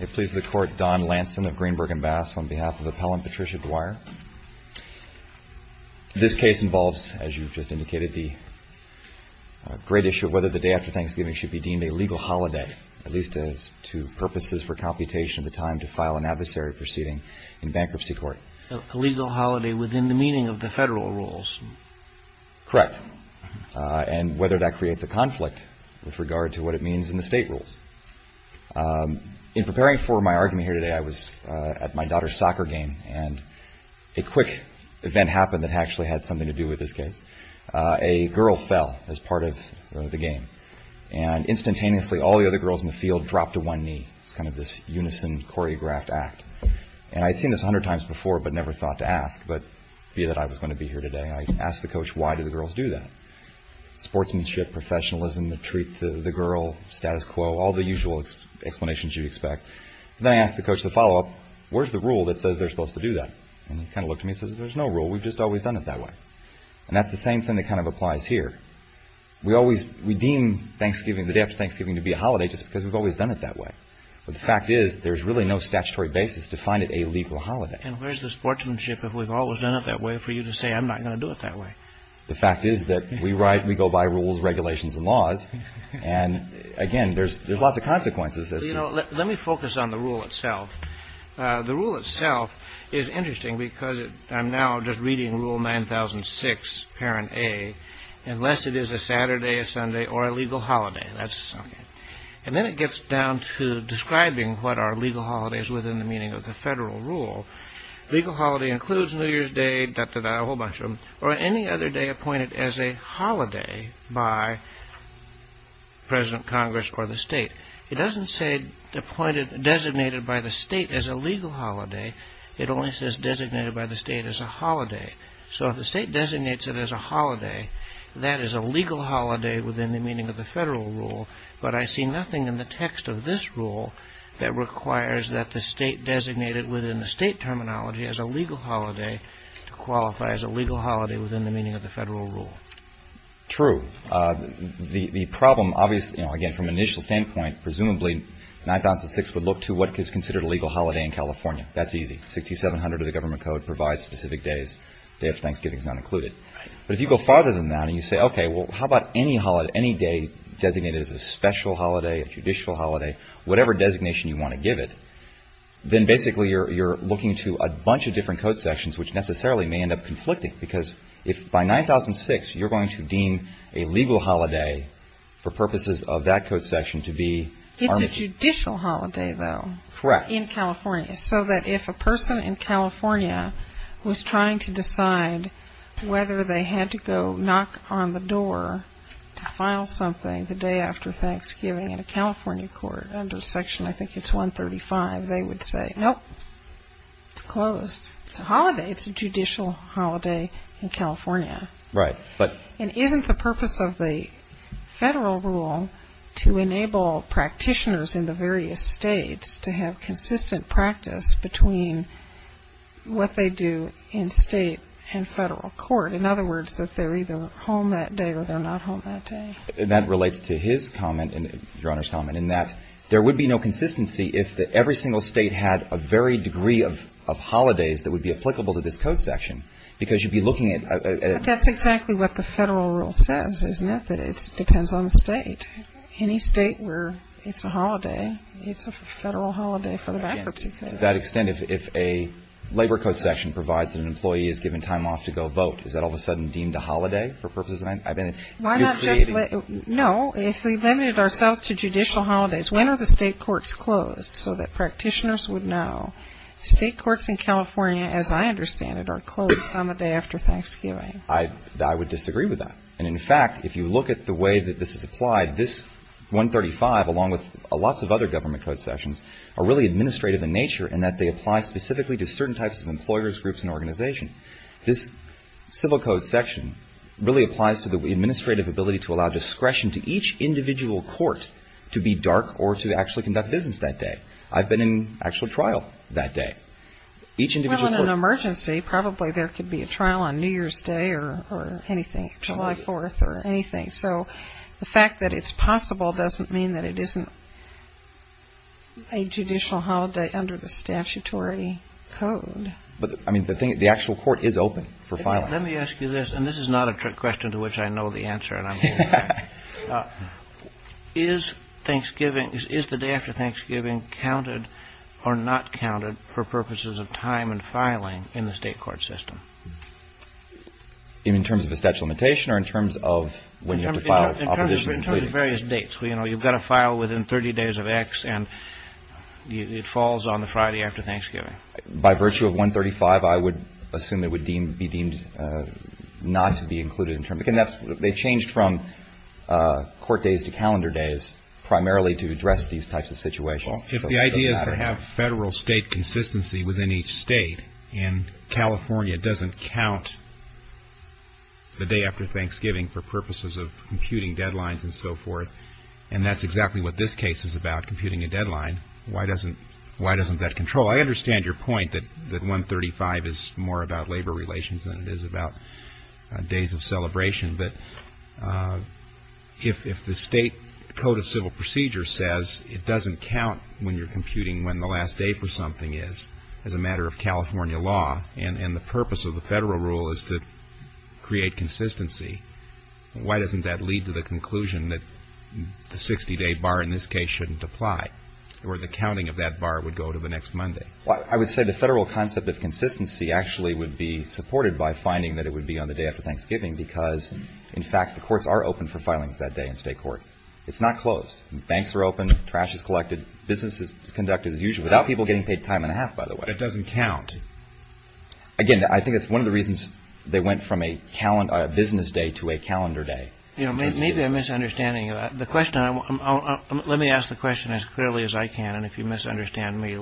It pleases the Court, Don Lanson of Greenberg & Bass, on behalf of Appellant Patricia Dwyer. This case involves, as you've just indicated, the great issue of whether the day after Thanksgiving should be deemed a legal holiday, at least as two purposes for computation of the time to file an adversary proceeding in bankruptcy court. A legal holiday within the meaning of the federal rules. Correct. And whether that creates a conflict with regard to what it means in the state rules. In preparing for my argument here today, I was at my daughter's soccer game, and a quick event happened that actually had something to do with this case. A girl fell as part of the game, and instantaneously all the other girls in the field dropped to one knee. It's kind of this unison, choreographed act. And I'd seen this a hundred times before, but never thought to ask, but be that I was going to be here today, I asked the coach, why do the girls do that? Sportsmanship, professionalism, the treat to the girl, status quo, all the usual explanations you'd expect. Then I asked the coach the follow-up, where's the rule that says they're supposed to do that? And he kind of looked at me and says, there's no rule, we've just always done it that way. And that's the same thing that kind of applies here. We always redeem Thanksgiving, the day after Thanksgiving, to be a holiday just because we've always done it that way. But the fact is, there's really no statutory basis to find it a legal holiday. And where's the sportsmanship if we've always done it that way for you to say, I'm not going to do it that way? The fact is that we go by rules, regulations, and laws. And again, there's lots of consequences. You know, let me focus on the rule itself. The rule itself is interesting because I'm now just reading Rule 9006, Parent A, unless it is a Saturday, a Sunday, or a legal holiday. And then it gets down to describing what are legal holidays within the meaning of the federal rule. Legal holiday includes New Year's Day, or any other day appointed as a holiday by President, Congress, or the state. It doesn't say designated by the state as a legal holiday. It only says designated by the state as a holiday. So if the state designates it as a holiday, that is a legal holiday within the meaning of the federal rule. But I see nothing in the text of this rule that requires that the state designated within the state terminology as a legal holiday to qualify as a legal holiday within the meaning of the federal rule. True. The problem, obviously, you know, again, from an initial standpoint, presumably, 9006 would look to what is considered a legal holiday in California. That's easy. 6700 of the government code provides specific days. Day of Thanksgiving is not included. But if you go farther than that and you say, okay, well, how about any holiday, any day designated as a special holiday, a judicial holiday, whatever designation you want to give it, then basically you're looking to a bunch of different code sections, which necessarily may end up conflicting. Because if by 9006 you're going to deem a legal holiday for purposes of that code section to be... It's a judicial holiday, though. Correct. In California. So that if a person in California was trying to decide whether they had to go knock on the door to file something the day after Thanksgiving in a California court under section, I think it's 135, they would say, nope, it's closed. It's a holiday. It's a judicial holiday in California. Right. And isn't the purpose of the federal rule to enable practitioners in the various states to have consistent practice between what they do in state and federal court? In other words, that they're either home that day or they're not home that day. And that relates to his comment and Your Honor's comment in that there would be no consistency if every single state had a varied degree of holidays that would be applicable to this code section. Because you'd be looking at... I think that's exactly what the federal rule says, isn't it? That it depends on the state. Any state where it's a holiday, it's a federal holiday for the bankruptcy code. To that extent, if a labor code section provides that an employee is given time off to go vote, is that all of a sudden deemed a holiday for purposes of that? Why not just let... No. If we limited ourselves to judicial holidays, when are the state courts closed so that practitioners would know? State courts in California, as I understand it, are closed on the day after Thanksgiving. I would disagree with that. And in fact, if you look at the way that this is applied, this 135, along with lots of other government code sections, are really administrative in nature in that they apply specifically to certain types of employers, groups, and organizations. This civil code section really applies to the administrative ability to allow discretion to each individual court to be dark or to actually conduct business that day. I've been in actual trial that day. Well, in an emergency, probably there could be a trial on New Year's Day or anything, July 4th or anything. So the fact that it's possible doesn't mean that it isn't a judicial holiday under the statutory code. But, I mean, the actual court is open for filing. Let me ask you this, and this is not a trick question to which I know the answer, and I'm going to lie. Is Thanksgiving, is the day after Thanksgiving counted or not counted for purposes of time and filing in the state court system? In terms of a statute of limitation or in terms of when you have to file opposition? In terms of various dates. You know, you've got to file within 30 days of X, and it falls on the Friday after Thanksgiving. By virtue of 135, I would assume it would be deemed not to be included. They changed from court days to calendar days primarily to address these types of situations. If the idea is to have federal state consistency within each state, and California doesn't count the day after Thanksgiving for purposes of computing deadlines and so forth, and that's exactly what this case is about, computing a deadline, why doesn't that control? Well, I understand your point that 135 is more about labor relations than it is about days of celebration. But if the state code of civil procedure says it doesn't count when you're computing when the last day for something is, as a matter of California law, and the purpose of the federal rule is to create consistency, why doesn't that lead to the conclusion that the 60-day bar in this case shouldn't apply? Or the counting of that bar would go to the next Monday. Well, I would say the federal concept of consistency actually would be supported by finding that it would be on the day after Thanksgiving because, in fact, the courts are open for filings that day in state court. It's not closed. Banks are open. Trash is collected. Businesses conduct as usual without people getting paid time and a half, by the way. It doesn't count. Again, I think it's one of the reasons they went from a business day to a calendar day. You know, maybe a misunderstanding. Let me ask the question as clearly as I can, and if you misunderstand me,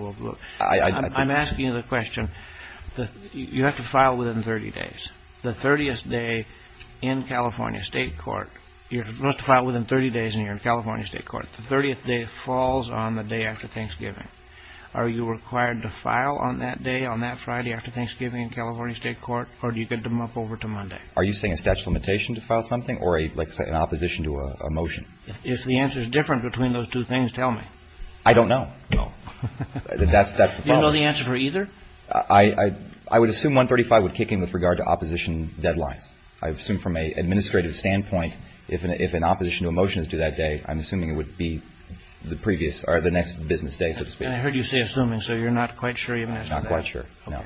I'm asking you the question. You have to file within 30 days. The 30th day in California state court, you're supposed to file within 30 days and you're in California state court. The 30th day falls on the day after Thanksgiving. Are you required to file on that day, on that Friday after Thanksgiving in California state court, or do you get to move over to Monday? Are you saying a statute of limitation to file something or an opposition to a motion? If the answer is different between those two things, tell me. I don't know. No. That's the problem. Do you know the answer for either? I would assume 135 would kick in with regard to opposition deadlines. I assume from an administrative standpoint, if an opposition to a motion is due that day, I'm assuming it would be the previous or the next business day, so to speak. And I heard you say assuming, so you're not quite sure even as to that? Not quite sure, no.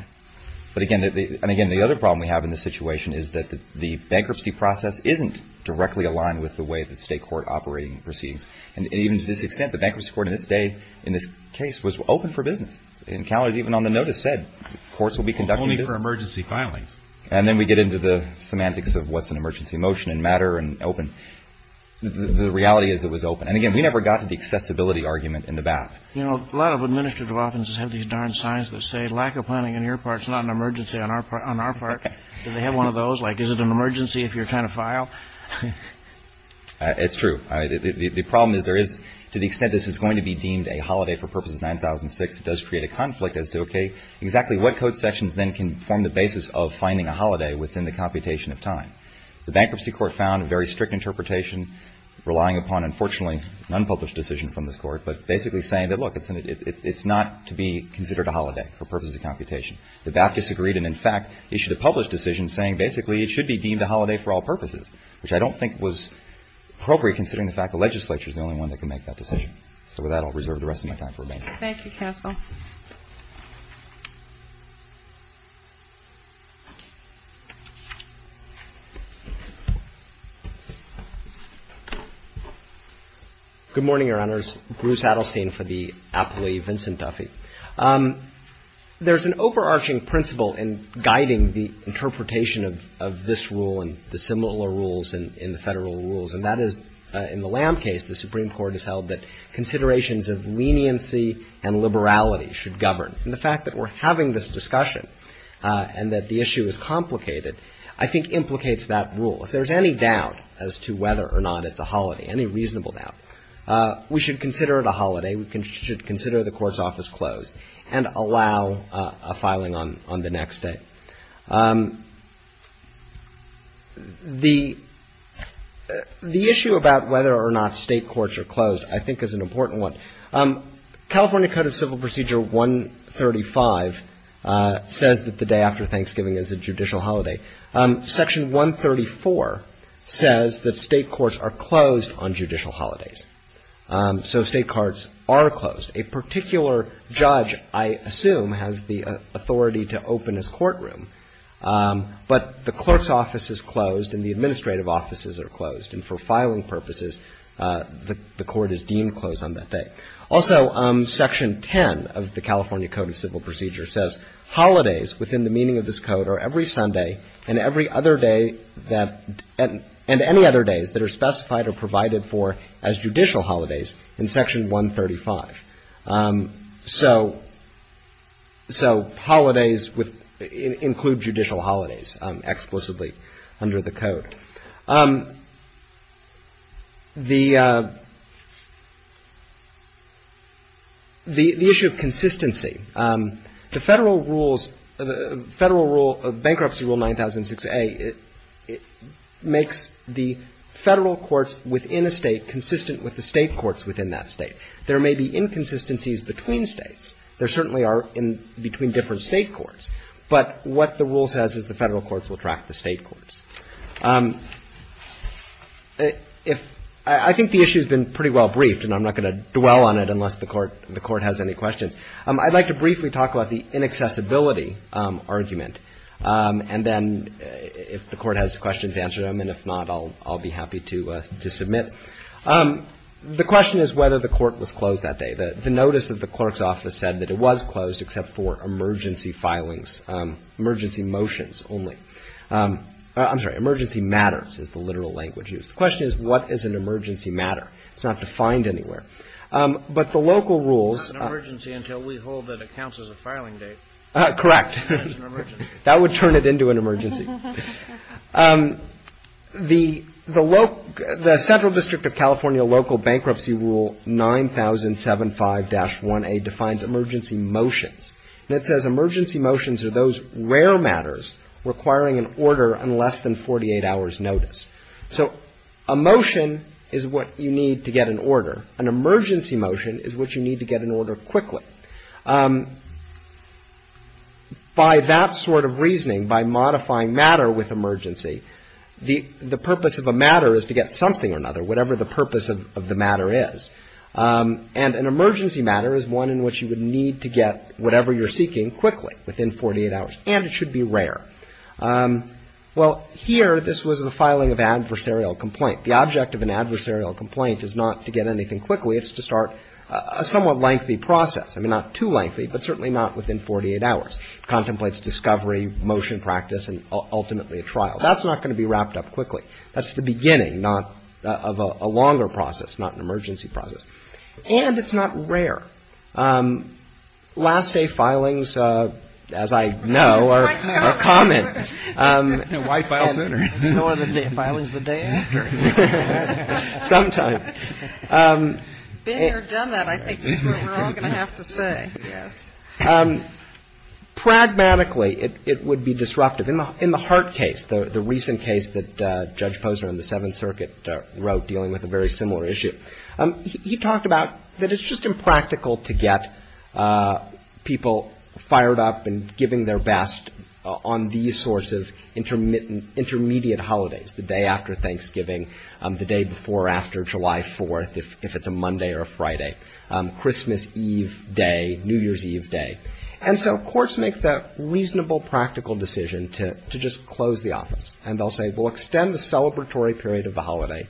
But again, and again, the other problem we have in this situation is that the bankruptcy process isn't directly aligned with the way that state court operating proceeds. And even to this extent, the bankruptcy court in this case was open for business. In California, even on the notice said courts will be conducting business. Only for emergency filings. And then we get into the semantics of what's an emergency motion in matter and open. The reality is it was open. And again, we never got to the accessibility argument in the BAP. You know, a lot of administrative offices have these darn signs that say lack of planning on your part. It's not an emergency on our part. On our part, they have one of those. Like, is it an emergency if you're trying to file? It's true. The problem is there is to the extent this is going to be deemed a holiday for purposes of 9006. It does create a conflict as to exactly what code sections then can form the basis of finding a holiday within the computation of time. The bankruptcy court found a very strict interpretation relying upon, unfortunately, an unpublished decision from this court. But basically saying that, look, it's not to be considered a holiday for purposes of computation. The BAP disagreed. And, in fact, issued a published decision saying basically it should be deemed a holiday for all purposes, which I don't think was appropriate considering the fact the legislature is the only one that can make that decision. So with that, I'll reserve the rest of my time for remaining. Thank you, counsel. Good morning, Your Honors. Bruce Adelstein for the appellee, Vincent Duffy. There's an overarching principle in guiding the interpretation of this rule and the similar rules in the Federal rules, and that is in the Lamb case, the Supreme Court has held that considerations of leniency and liberality should govern. And the fact that we're having this discussion and that the issue is complicated, I think, implicates that rule. If there's any doubt as to whether or not it's a holiday, any reasonable doubt, we should consider it a holiday. We should consider the court's office closed and allow a filing on the next day. The issue about whether or not state courts are closed, I think, is an important one. California Code of Civil Procedure 135 says that the day after Thanksgiving is a judicial holiday. Section 134 says that state courts are closed on judicial holidays. So state courts are closed. A particular judge, I assume, has the authority to open his courtroom. But the clerk's office is closed and the administrative offices are closed. And for filing purposes, the court is deemed closed on that day. Also, Section 10 of the California Code of Civil Procedure says, Holidays within the meaning of this code are every Sunday and every other day that — and any other days that are specified or provided for as judicial holidays in Section 135. So — so holidays include judicial holidays explicitly under the code. The — the issue of consistency, the Federal rules — Federal rule — Bankruptcy Rule 9006A, it makes the Federal courts within a state consistent with the state courts within that state. There may be inconsistencies between states. There certainly are in — between different state courts. But what the rule says is the Federal courts will track the state courts. If — I think the issue has been pretty well briefed, and I'm not going to dwell on it unless the court — the court has any questions. I'd like to briefly talk about the inaccessibility argument. And then if the court has questions, answer them. And if not, I'll — I'll be happy to — to submit. The question is whether the court was closed that day. The notice of the clerk's office said that it was closed except for emergency filings, emergency motions only. I'm sorry. Emergency matters is the literal language used. The question is, what is an emergency matter? It's not defined anywhere. But the local rules — It's not an emergency until we hold that it counts as a filing date. Correct. That's an emergency. That would turn it into an emergency. The — the — the Central District of California Local Bankruptcy Rule 9075-1A defines emergency motions. And it says emergency motions are those rare matters requiring an order on less than 48 hours' notice. So a motion is what you need to get an order. An emergency motion is what you need to get an order quickly. By that sort of reasoning, by modifying matter with emergency, the purpose of a matter is to get something or another, whatever the purpose of the matter is. And an emergency matter is one in which you would need to get whatever you're seeking quickly, within 48 hours. And it should be rare. Well, here, this was the filing of adversarial complaint. The object of an adversarial complaint is not to get anything quickly. It's to start a somewhat lengthy process. I mean, not too lengthy, but certainly not within 48 hours. It contemplates discovery, motion practice, and ultimately a trial. That's not going to be wrapped up quickly. That's the beginning, not of a longer process, not an emergency process. And it's not rare. Last day filings, as I know, are common. Why file sooner? No other filings the day after. Sometimes. Been here, done that. I think that's what we're all going to have to say. Yes. Pragmatically, it would be disruptive. In the Hart case, the recent case that Judge Posner in the Seventh Circuit wrote, dealing with a very similar issue, he talked about that it's just impractical to get people fired up and giving their best on these sorts of intermediate holidays, the day after Thanksgiving, the day before or after July 4th, if it's a Monday or a Friday, Christmas Eve day, New Year's Eve day. And so courts make the reasonable, practical decision to just close the office. And they'll say, well, extend the celebratory period of the holiday.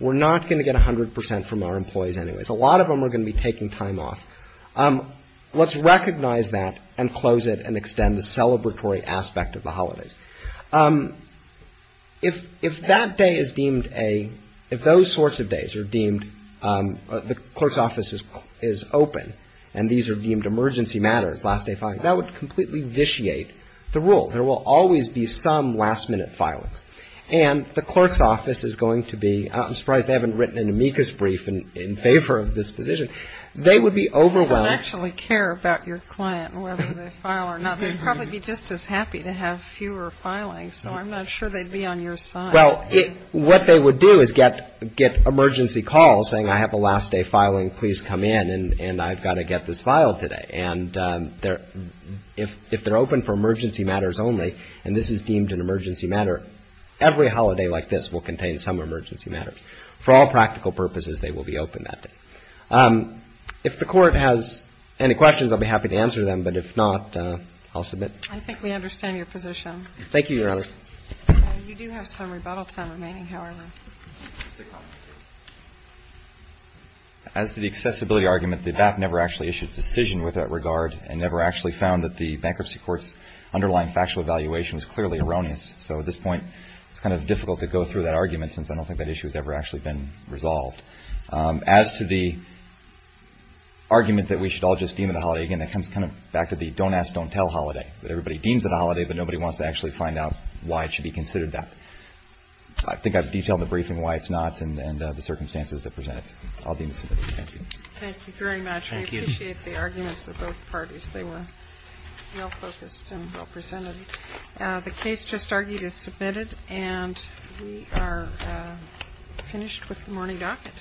We're not going to get 100 percent from our employees anyways. A lot of them are going to be taking time off. Let's recognize that and close it and extend the celebratory aspect of the holidays. If that day is deemed a, if those sorts of days are deemed, the clerk's office is open and these are deemed emergency matters, last day filing, that would completely vitiate the rule. There will always be some last minute filings. And the clerk's office is going to be, I'm surprised they haven't written an amicus brief in favor of this position. They would be overwhelmed. They don't actually care about your client, whether they file or not. They'd probably be just as happy to have fewer filings. So I'm not sure they'd be on your side. Well, what they would do is get emergency calls saying, I have a last day filing. Please come in and I've got to get this filed today. And if they're open for emergency matters only, and this is deemed an emergency matter, every holiday like this will contain some emergency matters. For all practical purposes, they will be open that day. If the Court has any questions, I'll be happy to answer them. But if not, I'll submit. I think we understand your position. Thank you, Your Honor. You do have some rebuttal time remaining, however. As to the accessibility argument, the BAP never actually issued a decision with that regard and never actually found that the bankruptcy court's underlying factual evaluation was clearly erroneous. So at this point, it's kind of difficult to go through that argument since I don't think that issue has ever actually been resolved. As to the argument that we should all just deem it a holiday, again, that comes kind of back to the don't ask, don't tell holiday, that everybody deems it a holiday, but nobody wants to actually find out why it should be considered that. I think I've detailed in the briefing why it's not and the circumstances that present it. I'll deem it submitted. Thank you. Thank you very much. We appreciate the arguments of both parties. They were well-focused and well-presented. The case just argued is submitted and we are finished with the morning docket.